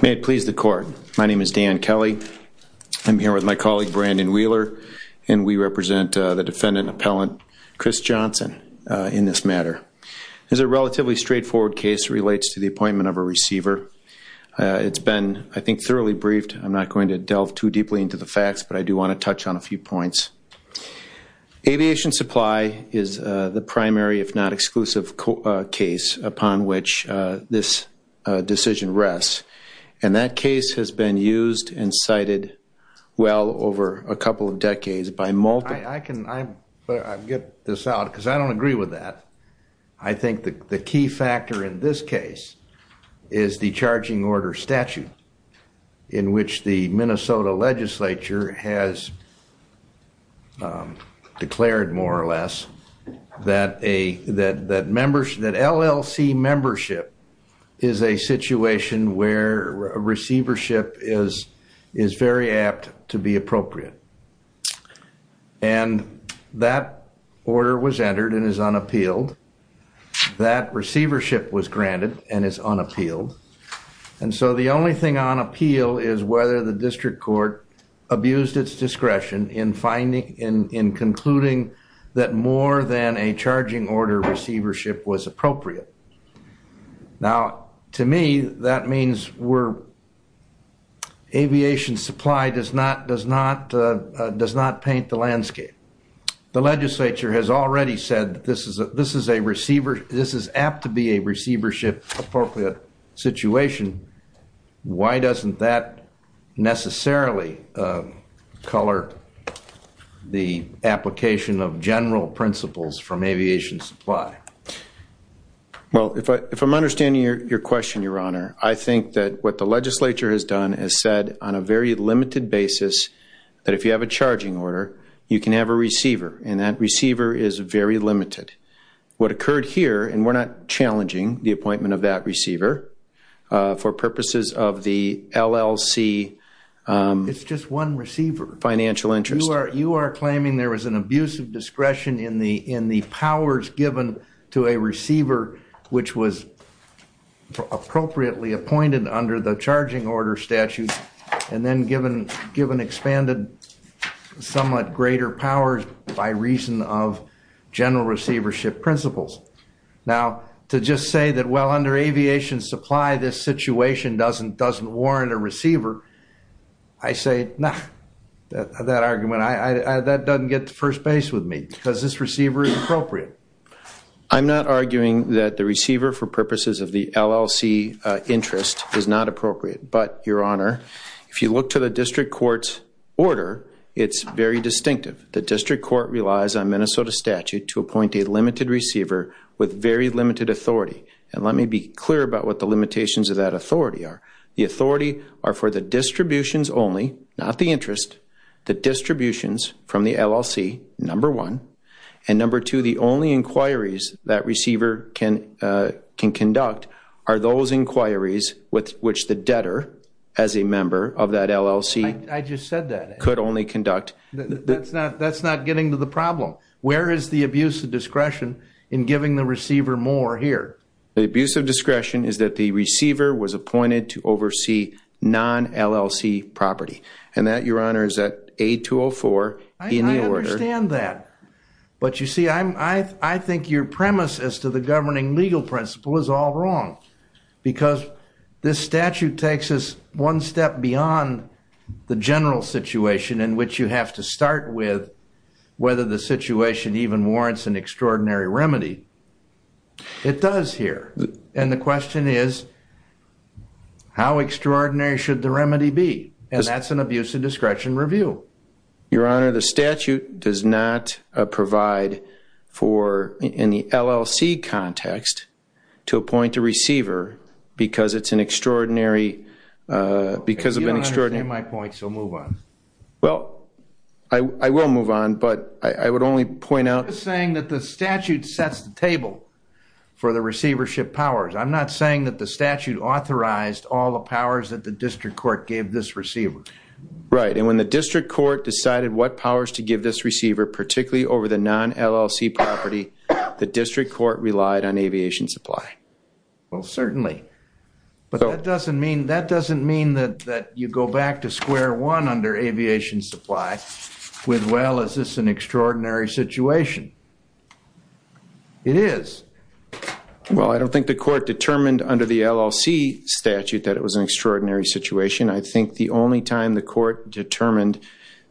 May it please the court. My name is Dan Kelly. I'm here with my colleague Brandon Wheeler and we represent the defendant appellant Chris Johnson in this matter. It's a relatively straightforward case that relates to the appointment of a receiver. It's been I think thoroughly briefed. I'm not going to delve too deeply into the facts but I do want to touch on a Aviation Supply is the primary if not exclusive case upon which this decision rests. And that case has been used and cited well over a couple of decades by multiple I can get this out because I don't agree with that. I think the key factor in this case is the charging order statute in which the Minnesota legislature has declared more or less that LLC membership is a situation where receivership is very apt to be appropriate. And that order was entered and is unappealed. That receivership was granted and is unappealed. And so the only thing on appeal is whether the district court abused its discretion in finding in concluding that more than a charging order receivership was appropriate. Now to me that means we're aviation supply does not does not does not paint the landscape. The legislature has already said this is this is a receiver. This is apt to be a receivership appropriate situation. Why doesn't that necessarily color the application of general principles from aviation supply. Well if I if I'm understanding your question your honor I think that what the legislature has done is said on a very limited basis that if you have a charging order you can have a receiver and that receiver is very limited. What occurred here and we're not challenging the appointment of that receiver for purposes of the LLC. It's just one receiver. Financial interest. You are you are claiming there was an abusive discretion in the in the powers given to a receiver which was appropriately appointed under the my reason of general receivership principles. Now to just say that well under aviation supply this situation doesn't doesn't warrant a receiver. I say no. That argument I that doesn't get the first base with me because this receiver is appropriate. I'm not arguing that the receiver for purposes of the LLC interest is not appropriate. In the district court's order it's very distinctive. The district court relies on Minnesota statute to appoint a limited receiver with very limited authority. And let me be clear about what the limitations of that authority are. The authority are for the distributions only not the interest the distributions from the LLC number one and number two the only inquiries that receiver can can conduct are those inquiries with which the debtor as a member of that LLC. I just said that could only conduct. That's not that's not getting to the problem. Where is the abusive discretion in giving the receiver more here. The abuse of discretion is that the receiver was appointed to oversee non LLC property and that your honor is that a tool for you to understand that. But you see I'm I I think your premise as to the governing legal principle is all wrong because this statute takes us one step beyond the general situation in which you have to start with whether the situation even warrants an extraordinary remedy. It does here. And the question is how extraordinary should the remedy be. And that's an abuse of discretion review. Your honor the statute does not provide for in the LLC context to appoint a receiver because it's an extraordinary because of an extraordinary my point so move on. Well I will move on but I would only point out saying that the statute sets the table for the receivership powers. I'm not saying that the statute authorized all the powers that the district court gave this receiver right. And when the district court decided what powers to give this receiver particularly over the non LLC property the district court relied on aviation supply. Well certainly. But that doesn't mean that doesn't mean that that you go back to square one under aviation supply with well is this an extraordinary situation. It is. Well I don't think the court determined under the LLC statute that it was an extraordinary situation. I think the only time the court determined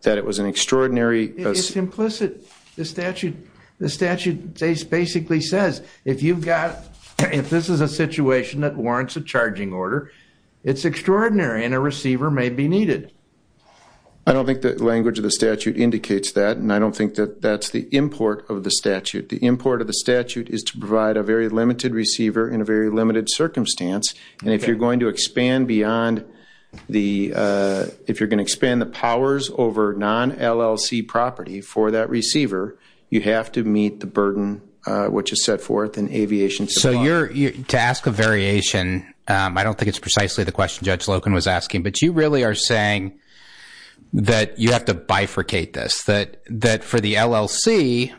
that it was an extraordinary. It's implicit. The statute the statute basically says if you've got if this is a situation that warrants a charging order it's extraordinary and a receiver may be needed. I don't think the language of the statute indicates that and I don't think that that's the import of the statute. The import of the statute is to provide a very limited receiver in a very limited circumstance. And if you're going to expand beyond the if you're going to expand the powers over non LLC property for that receiver you have to meet the burden which is set forth in aviation. So you're to ask a variation. I don't think it's precisely the question Judge Logan was asking but you really are saying that you have to bifurcate this that that for the LLC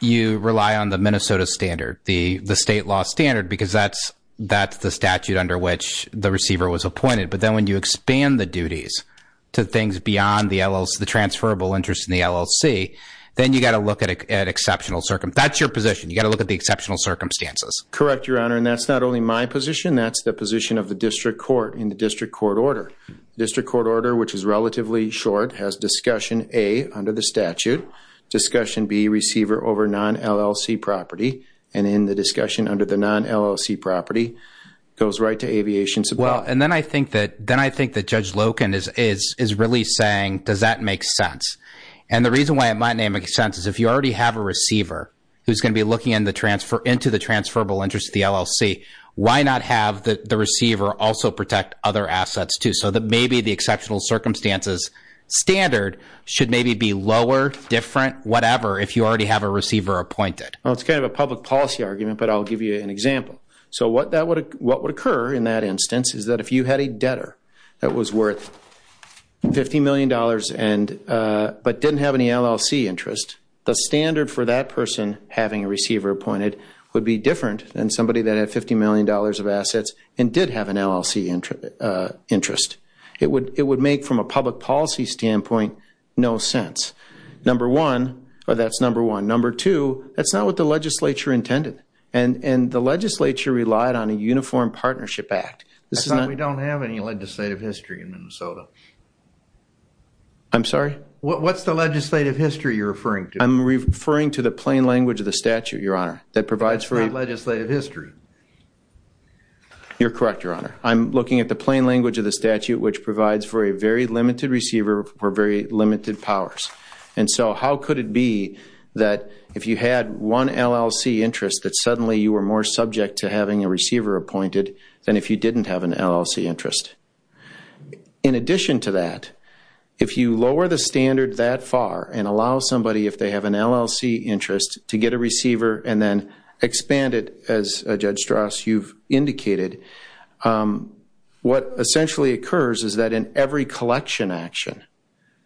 you rely on the Minnesota standard the state law standard because that's that's the statute under which the receiver was appointed. But then when you expand the duties to things beyond the LLC the transferable interest in the LLC then you got to look at it at exceptional circumstances. That's your position. You got to look at the exceptional circumstances. Correct Your Honor and that's not only my position that's the position of the district court in the district court order district court order which is relatively short has discussion a under the statute discussion be receiver over non LLC property and in the discussion under the non LLC property goes right to aviation. Well and then I think that then I think that Judge Logan is is is really saying does that make sense. And the reason why it might make sense is if you already have a receiver who's going to be looking in the transfer into the transferable interest the LLC why not have the receiver also protect other assets too so that maybe the exceptional circumstances standard should maybe be lower different whatever if you already have a receiver appointed. Well it's kind of a public policy argument but I'll give you an example. So what that would what would occur in that instance is that if you had a debtor that was worth 50 million dollars and but didn't have any LLC interest the standard for that person having a receiver appointed would be different than somebody that had 50 million dollars of assets and did have an LLC interest. It would it would make from a public policy standpoint no sense. Number one that's number one number two that's not what the legislature intended and and the legislature relied on a uniform partnership act. This is not we don't have any legislative history in Minnesota. I'm sorry what's the legislative history you're referring to I'm referring to the plain language of the statute your honor that provides for legislative history. You're correct your honor I'm looking at the plain language of the statute which provides for a very limited receiver for very limited powers and so how could it be that if you had one LLC interest that suddenly you were more subject to having a receiver appointed than if you didn't have an LLC interest. In addition to that if you lower the standard that far and allow somebody if they have an LLC interest to get a receiver and then expand it as Judge Strauss you've indicated. What essentially occurs is that in every collection action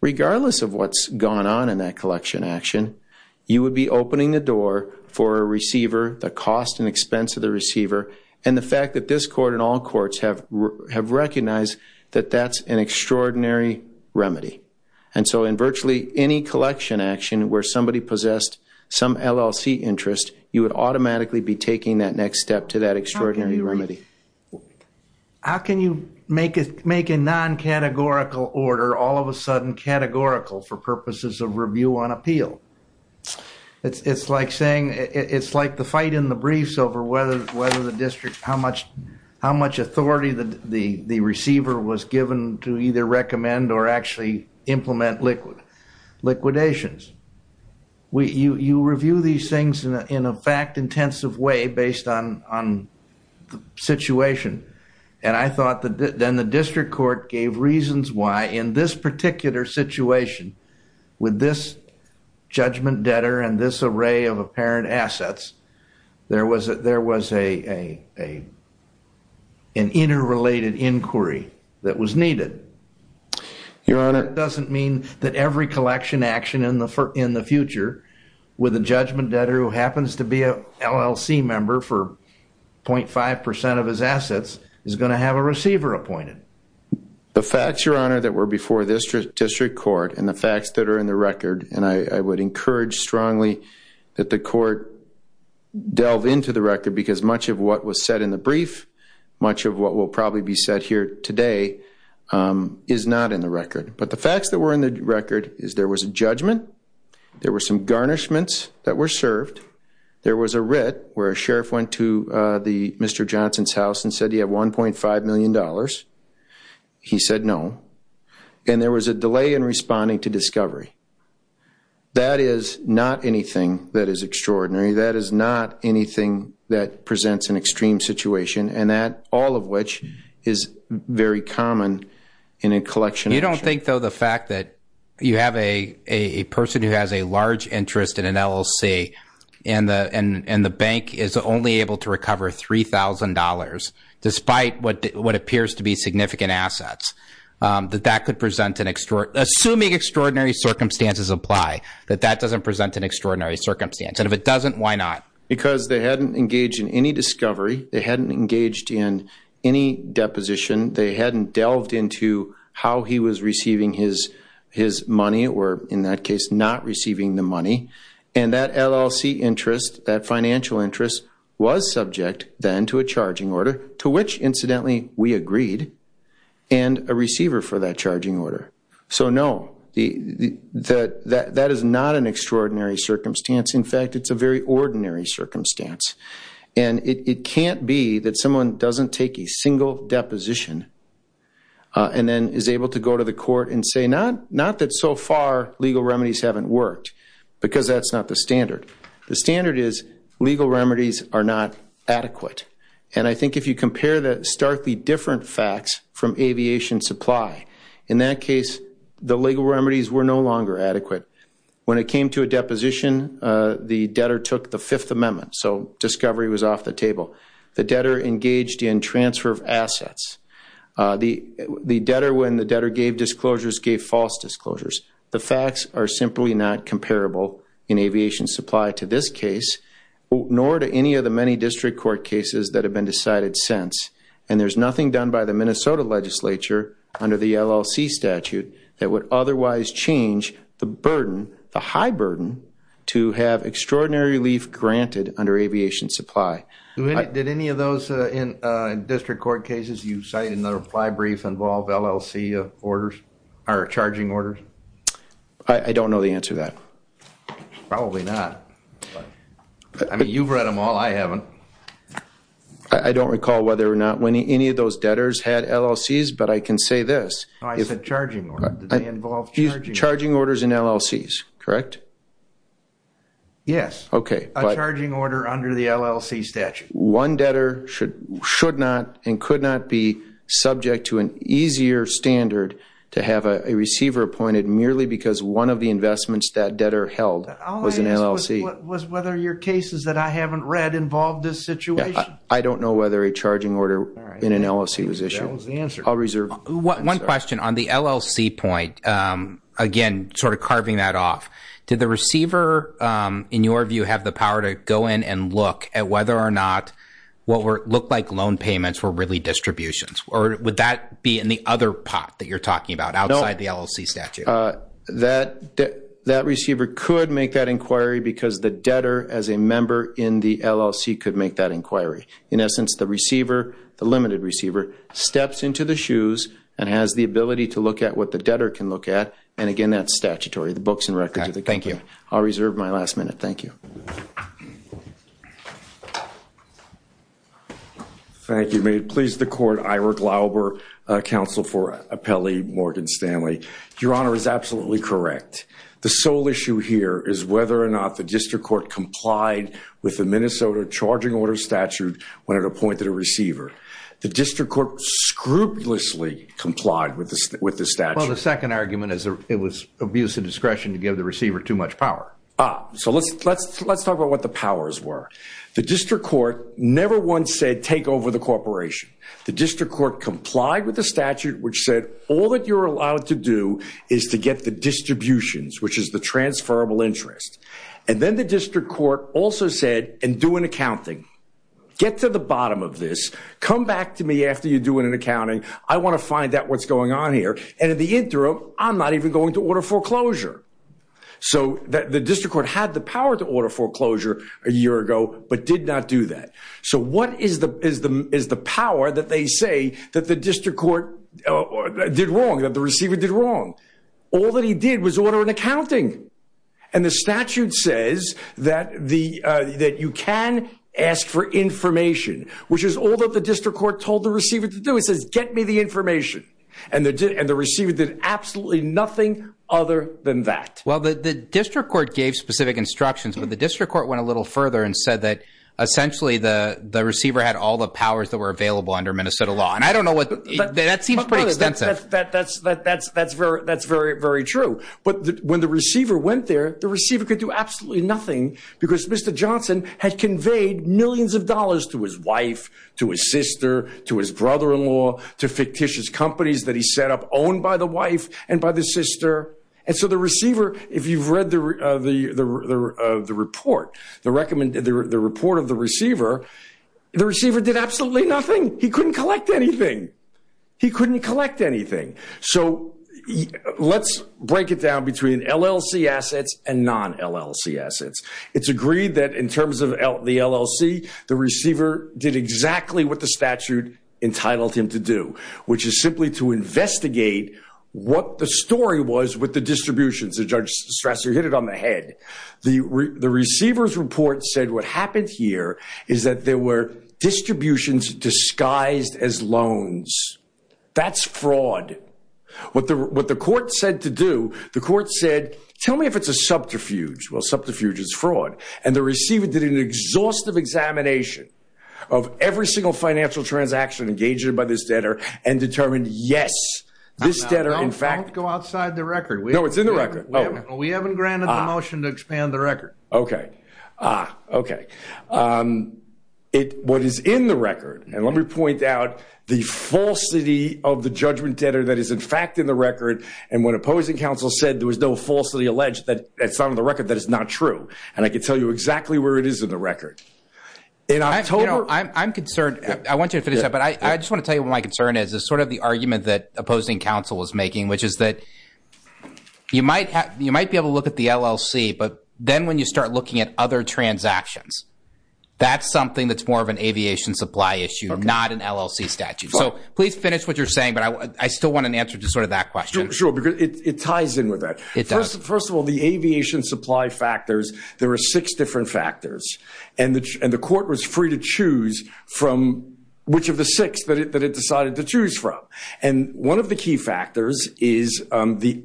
regardless of what's gone on in that collection action you would be opening the door for a receiver the cost and expense of the receiver and the fact that this court in all courts have have recognized that that's an extraordinary remedy and so in virtually any collection action where somebody possessed some LLC interest you would automatically be taking that next step to that extraordinary remedy. How can you make it make a non categorical order all of a sudden categorical for purposes of review on appeal. It's like saying it's like the fight in the briefs over whether whether the district how much how much authority that the the receiver was given to either recommend or actually implement liquid liquidations. We you you review these things in a in a fact intensive way based on on the situation and I thought that then the district court gave reasons why in this particular situation with this judgment debtor and this array of apparent assets there was there was a a a an interrelated inquiry that was needed. Your Honor doesn't mean that every collection action in the in the future with a judgment debtor who happens to be a LLC member for point five percent of his assets is going to have a receiver appointed. The facts Your Honor that were before this district district court and the facts that are in the record and I would encourage strongly that the court delve into the record because much of what was said in the brief much of what will probably be said here today is not in the record but the facts that were in the record is there was a judgment. There were some garnishments that were served. There was a red where sheriff went to the Mister Johnson's house and said you have one point five million dollars. He said no. And there was a delay in responding to discovery. That is not anything that is extraordinary that is not anything that presents an extreme situation and that all of which is very common in a collection. You don't think though the fact that you have a a person who has a large interest in an LLC and the and and the bank is only able to recover three thousand dollars despite what what appears to be significant assets that that could present an extra assuming extraordinary circumstances apply that that doesn't present an extraordinary circumstance and if it doesn't why not. Because they hadn't engaged in any discovery they hadn't engaged in any deposition they hadn't delved into how he was receiving his his money or in that case not receiving the money and that LLC interest that financial interest was subject then to a charging order to which incidentally we agreed and a receiver for that charging order. So no the the that that is not an extraordinary circumstance in fact it's a very ordinary circumstance and it can't be that someone doesn't take a single deposition and then is able to go to the court and say not not that so far legal remedies haven't worked because that's not the standard. The standard is legal remedies are not adequate and I think if you compare the starkly different facts from aviation supply in that case the legal remedies were no longer adequate when it came to a deposition the debtor took the Fifth Amendment so discovery was off the table. The debtor engaged in transfer of assets the the debtor when the debtor gave disclosures gave false disclosures the facts are simply not comparable in aviation supply to this case nor to any of the many district court cases that have been decided since and there's nothing done by the Minnesota legislature under the LLC statute that would otherwise change the burden the high burden to have extraordinary relief granted under aviation supply. Did any of those in district court cases you cite in the reply brief involve LLC orders or charging orders? I don't know the answer to that. Probably not. I mean you've read them all I haven't. I don't recall whether or not when any of those debtors had LLC's but I can say this. I said charging orders. Charging orders in LLC's correct? Yes. A charging order under the LLC statute. One debtor should not and could not be subject to an easier standard to have a receiver appointed merely because one of the investments that debtor held was an LLC. All I asked was whether your cases that I haven't read involved this situation. I don't know whether a charging order in an LLC was issued. That was the answer. I'll reserve. One question on the LLC point again sort of carving that off. Did the receiver in your view have the power to go in and look at whether or not what looked like loan payments were really distributions or would that be in the other pot that you're talking about outside the LLC statute? That receiver could make that inquiry because the debtor as a member in the LLC could make that inquiry. In essence, the receiver, the limited receiver steps into the shoes and has the ability to look at what the debtor can look at and again that's statutory. The books and records of the company. Thank you. I'll reserve my last minute. Thank you. Thank you. May it please the court. Ira Glauber, counsel for Apelli Morgan Stanley. Your Honor is absolutely correct. The sole issue here is whether or not the district court complied with the Minnesota charging order statute when it appointed a receiver. The district court scrupulously complied with the statute. Well, the second argument is it was abuse of discretion to give the receiver too much power. Ah, so let's talk about what the powers were. The district court never once said take over the corporation. The district court complied with the statute which said all that you're allowed to do is to get the distributions which is the transferable interest. And then the district court also said and do an accounting. Get to the bottom of this. Come back to me after you do an accounting. I want to find out what's going on here. And in the interim, I'm not even going to order foreclosure. So the district court had the power to order foreclosure a year ago but did not do that. So what is the power that they say that the district court did wrong, that the receiver did wrong? All that he did was order an accounting. And the statute says that you can ask for information which is all that the district court told the receiver to do. It says get me the information. And the receiver did absolutely nothing other than that. Well, the district court gave specific instructions but the district court went a little further and said that essentially the receiver had all the powers that were available under Minnesota law. And I don't know what – that seems pretty extensive. That's very true. But when the receiver went there, the receiver could do absolutely nothing because Mr. Johnson had conveyed millions of dollars to his wife, to his sister, to his brother-in-law, to fictitious companies that he set up owned by the wife and by the sister. And so the receiver, if you've read the report, the report of the receiver, the receiver did absolutely nothing. He couldn't collect anything. He couldn't collect anything. So let's break it down between LLC assets and non-LLC assets. It's agreed that in terms of the LLC, the receiver did exactly what the statute entitled him to do, which is simply to investigate what the story was with the distributions. Judge Strasser hit it on the head. The receiver's report said what happened here is that there were distributions disguised as loans. That's fraud. What the court said to do, the court said, tell me if it's a subterfuge. Well, subterfuge is fraud. And the receiver did an exhaustive examination of every single financial transaction engaged in by this debtor and determined, yes, this debtor in fact – Don't go outside the record. No, it's in the record. We haven't granted the motion to expand the record. Okay. Ah, okay. What is in the record, and let me point out the falsity of the judgment debtor that is in fact in the record, and when opposing counsel said there was no falsity alleged that's on the record, that is not true. And I can tell you exactly where it is in the record. I'm concerned. I want you to finish that, but I just want to tell you what my concern is. It's sort of the argument that opposing counsel is making, which is that you might be able to look at the LLC, but then when you start looking at other transactions, that's something that's more of an aviation supply issue, not an LLC statute. So please finish what you're saying, but I still want an answer to sort of that question. Sure, because it ties in with that. It does. First of all, the aviation supply factors, there are six different factors, and the court was free to choose from which of the six that it decided to choose from. And one of the key factors is the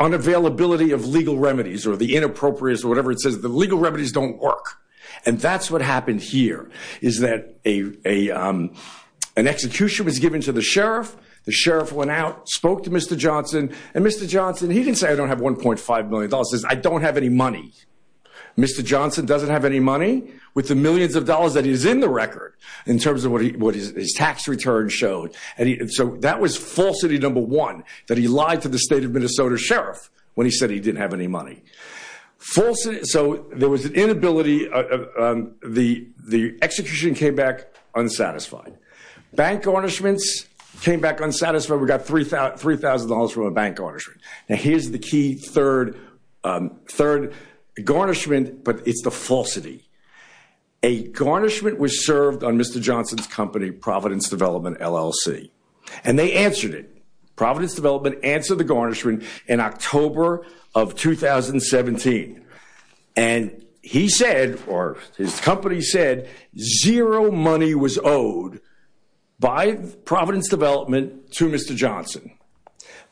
unavailability of legal remedies or the inappropriate or whatever it says. The legal remedies don't work, and that's what happened here is that an execution was given to the sheriff. The sheriff went out, spoke to Mr. Johnson, and Mr. Johnson, he didn't say I don't have $1.5 million. He says I don't have any money. Mr. Johnson doesn't have any money with the millions of dollars that he's in the record in terms of what his tax return showed. And so that was falsity number one, that he lied to the state of Minnesota sheriff when he said he didn't have any money. So there was an inability. The execution came back unsatisfied. Bank garnishments came back unsatisfied. We got $3,000 from a bank garnishment. Now, here's the key third garnishment, but it's the falsity. A garnishment was served on Mr. Johnson's company, Providence Development, LLC, and they answered it. Providence Development answered the garnishment in October of 2017. And he said or his company said zero money was owed by Providence Development to Mr. Johnson.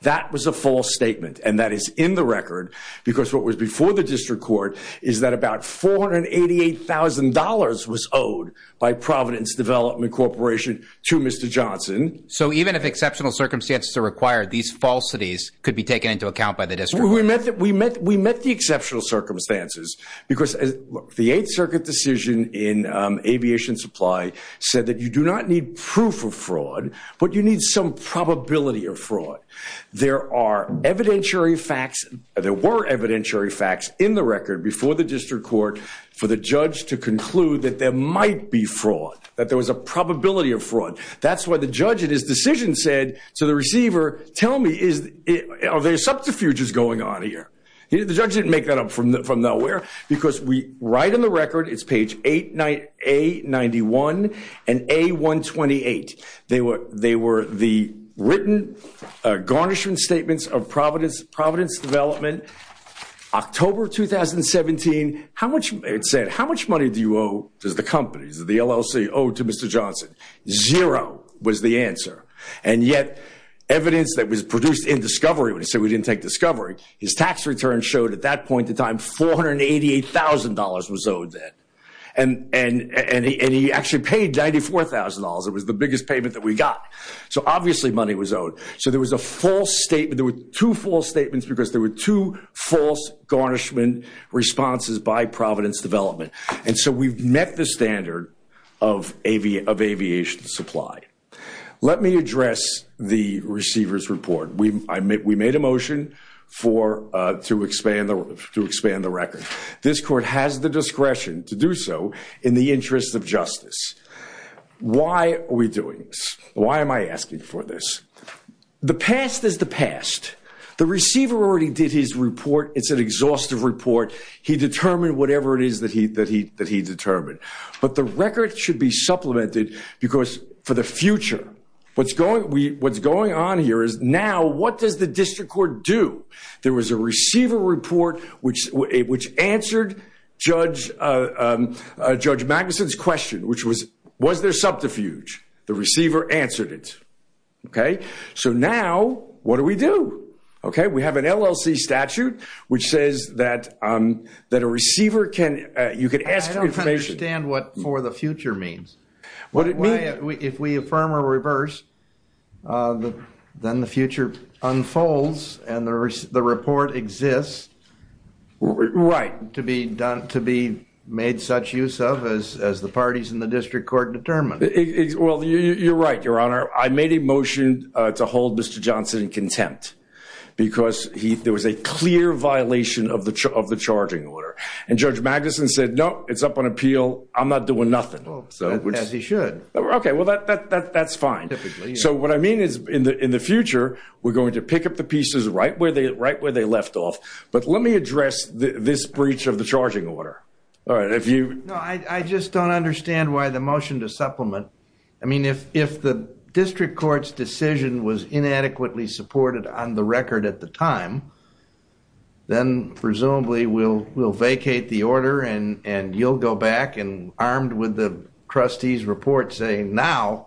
That was a false statement, and that is in the record because what was before the district court is that about $488,000 was owed by Providence Development Corporation to Mr. Johnson. So even if exceptional circumstances are required, these falsities could be taken into account by the district court. We met the exceptional circumstances because the Eighth Circuit decision in aviation supply said that you do not need proof of fraud, but you need some probability of fraud. There are evidentiary facts. There were evidentiary facts in the record before the district court for the judge to conclude that there might be fraud, that there was a probability of fraud. That's why the judge in his decision said to the receiver, tell me, are there subterfuges going on here? The judge didn't make that up from nowhere because right in the record, it's page A91 and A128. They were the written garnishment statements of Providence Development, October 2017. It said, how much money do you owe to the companies, the LLC owed to Mr. Johnson? Zero was the answer. And yet evidence that was produced in discovery, when he said we didn't take discovery, his tax return showed at that point in time $488,000 was owed then. And he actually paid $94,000. It was the biggest payment that we got. So obviously money was owed. So there was a false statement. There were two false statements because there were two false garnishment responses by Providence Development. And so we've met the standard of aviation supply. Let me address the receiver's report. We made a motion to expand the record. This court has the discretion to do so in the interest of justice. Why are we doing this? Why am I asking for this? The past is the past. The receiver already did his report. It's an exhaustive report. He determined whatever it is that he determined. But the record should be supplemented because for the future, what's going on here is now what does the district court do? There was a receiver report which answered Judge Magnuson's question, which was, was there subterfuge? The receiver answered it. Okay. So now what do we do? Okay. We have an LLC statute which says that a receiver can, you can ask for information. I don't understand what for the future means. If we affirm or reverse, then the future unfolds and the report exists. Right. To be done, to be made such use of as the parties in the district court determined. Well, you're right, Your Honor. I made a motion to hold Mr. Johnson in contempt because there was a clear violation of the charging order. And Judge Magnuson said, no, it's up on appeal. I'm not doing nothing. As he should. Okay. Well, that's fine. So what I mean is in the future, we're going to pick up the pieces right where they left off. But let me address this breach of the charging order. No, I just don't understand why the motion to supplement. I mean, if the district court's decision was inadequately supported on the record at the time, then presumably we'll vacate the order and you'll go back and armed with the trustee's report saying, now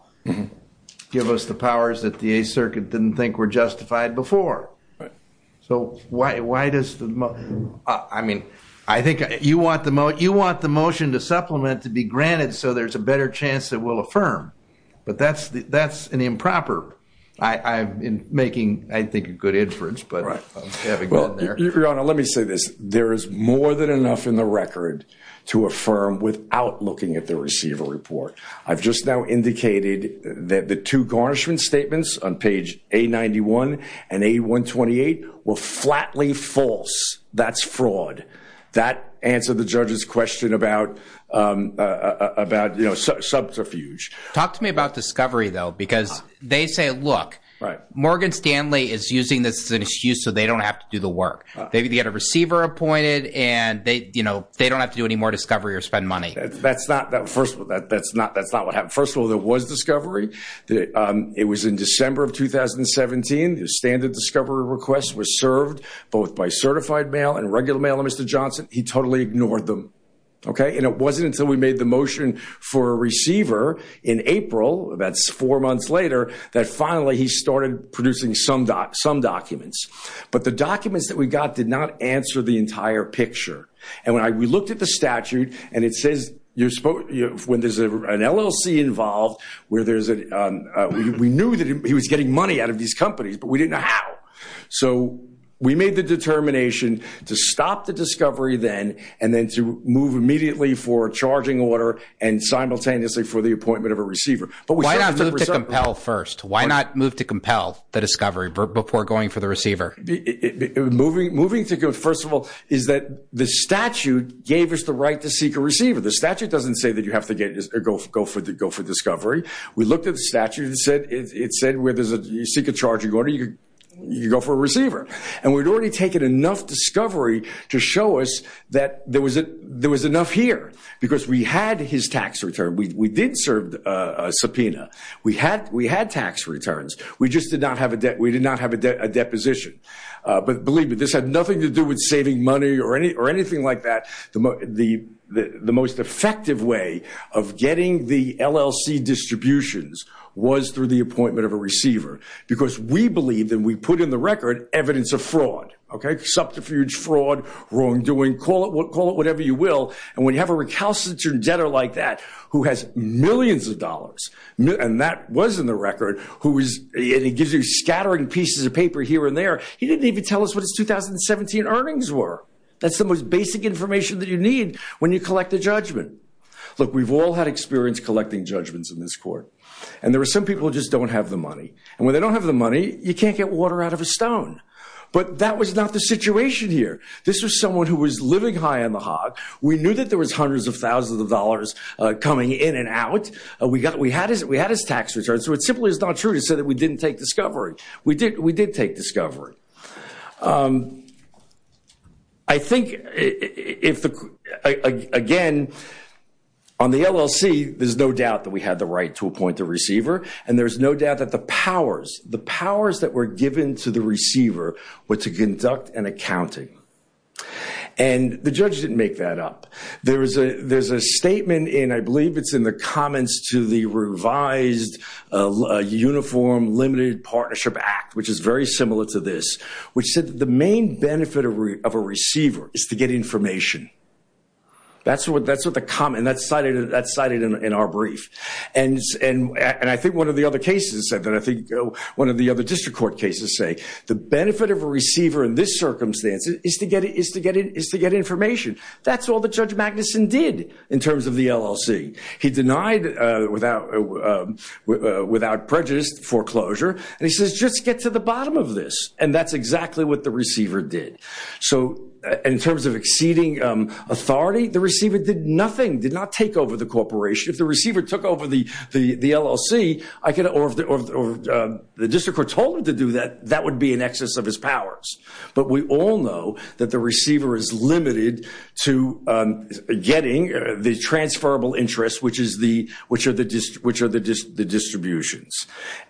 give us the powers that the 8th Circuit didn't think were justified before. Right. So why does the, I mean, I think you want the motion to supplement to be granted so there's a better chance that we'll affirm. But that's an improper. I'm making, I think, a good inference, but having gone there. Your Honor, let me say this. There is more than enough in the record to affirm without looking at the receiver report. I've just now indicated that the two garnishment statements on page A91 and A128 were flatly false. That's fraud. That answered the judge's question about subterfuge. Talk to me about discovery, though, because they say, look, Morgan Stanley is using this as an excuse so they don't have to do the work. They get a receiver appointed and they don't have to do any more discovery or spend money. That's not what happened. First of all, there was discovery. It was in December of 2017. The standard discovery request was served both by certified mail and regular mail to Mr. Johnson. He totally ignored them. And it wasn't until we made the motion for a receiver in April, that's four months later, that finally he started producing some documents. But the documents that we got did not answer the entire picture. And we looked at the statute and it says when there's an LLC involved, we knew that he was getting money out of these companies, but we didn't know how. So we made the determination to stop the discovery then and then to move immediately for a charging order and simultaneously for the appointment of a receiver. Why not move to compel first? Why not move to compel the discovery before going for the receiver? Moving to compel, first of all, is that the statute gave us the right to seek a receiver. The statute doesn't say that you have to go for discovery. We looked at the statute and it said where you seek a charging order, you go for a receiver. And we'd already taken enough discovery to show us that there was enough here because we had his tax return. We did serve a subpoena. We had tax returns. We just did not have a debt position. But believe me, this had nothing to do with saving money or anything like that. The most effective way of getting the LLC distributions was through the appointment of a receiver because we believe that we put in the record evidence of fraud, okay, subterfuge fraud, wrongdoing, call it whatever you will. And when you have a recalcitrant debtor like that who has millions of dollars and that was in the record and he gives you scattering pieces of paper here and there, he didn't even tell us what his 2017 earnings were. That's the most basic information that you need when you collect a judgment. Look, we've all had experience collecting judgments in this court. And there are some people who just don't have the money. And when they don't have the money, you can't get water out of a stone. But that was not the situation here. This was someone who was living high on the hog. We knew that there was hundreds of thousands of dollars coming in and out. We had his tax returns. So it simply is not true to say that we didn't take discovery. We did take discovery. I think, again, on the LLC, there's no doubt that we had the right to appoint a receiver. And there's no doubt that the powers, the powers that were given to the receiver were to conduct an accounting. And the judge didn't make that up. There's a statement in, I believe it's in the comments to the revised Uniform Limited Partnership Act, which is very similar to this, which said that the main benefit of a receiver is to get information. That's what the comment, and that's cited in our brief. And I think one of the other cases said that. I think one of the other district court cases say the benefit of a receiver in this circumstance is to get information. That's all that Judge Magnuson did in terms of the LLC. He denied without prejudice foreclosure. And he says, just get to the bottom of this. And that's exactly what the receiver did. So in terms of exceeding authority, the receiver did nothing, did not take over the corporation. If the receiver took over the LLC, or the district court told him to do that, that would be in excess of his powers. But we all know that the receiver is limited to getting the transferable interest, which are the distributions.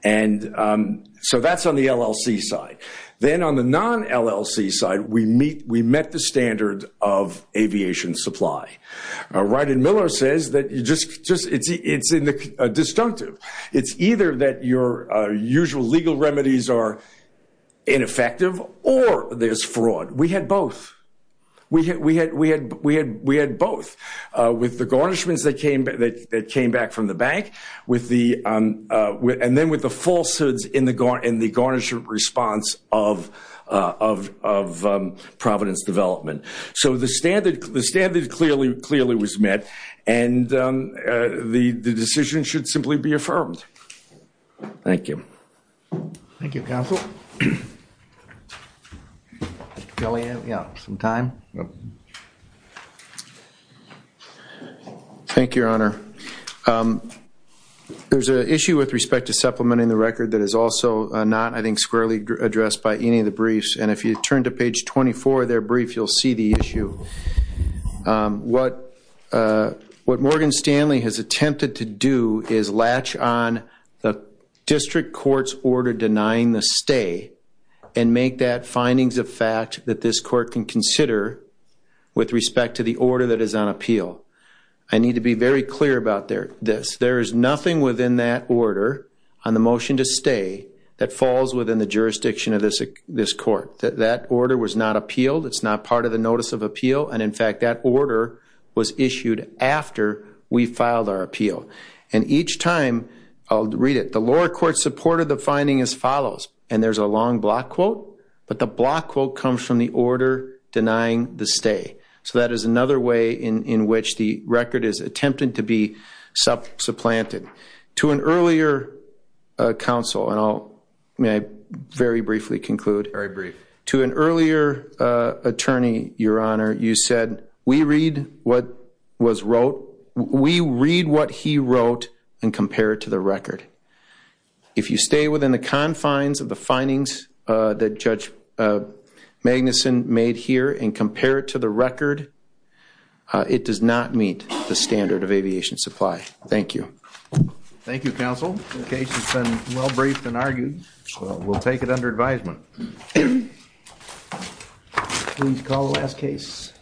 And so that's on the LLC side. Then on the non-LLC side, we met the standard of aviation supply. Ryden Miller says that it's disjunctive. It's either that your usual legal remedies are ineffective, or there's fraud. We had both. We had both, with the garnishments that came back from the bank, and then with the falsehoods in the garnishment response of Providence Development. So the standard clearly was met, and the decision should simply be affirmed. Thank you. Thank you, counsel. Mr. Kelley, do we have some time? Thank you, Your Honor. There's an issue with respect to supplementing the record that is also not, I think, squarely addressed by any of the briefs. And if you turn to page 24 of their brief, you'll see the issue. What Morgan Stanley has attempted to do is latch on the district court's order denying the stay and make that findings of fact that this court can consider with respect to the order that is on appeal. I need to be very clear about this. There is nothing within that order on the motion to stay that falls within the jurisdiction of this court. That order was not appealed. It's not part of the notice of appeal. And, in fact, that order was issued after we filed our appeal. And each time, I'll read it. The lower court supported the finding as follows, and there's a long block quote, but the block quote comes from the order denying the stay. So that is another way in which the record is attempted to be supplanted. To an earlier counsel, and I'll very briefly conclude. Very brief. To an earlier attorney, Your Honor, you said, we read what was wrote. We read what he wrote and compare it to the record. If you stay within the confines of the findings that Judge Magnuson made here and compare it to the record, it does not meet the standard of aviation supply. Thank you. Thank you, counsel. The case has been well briefed and argued. We'll take it under advisement. Please call the last case.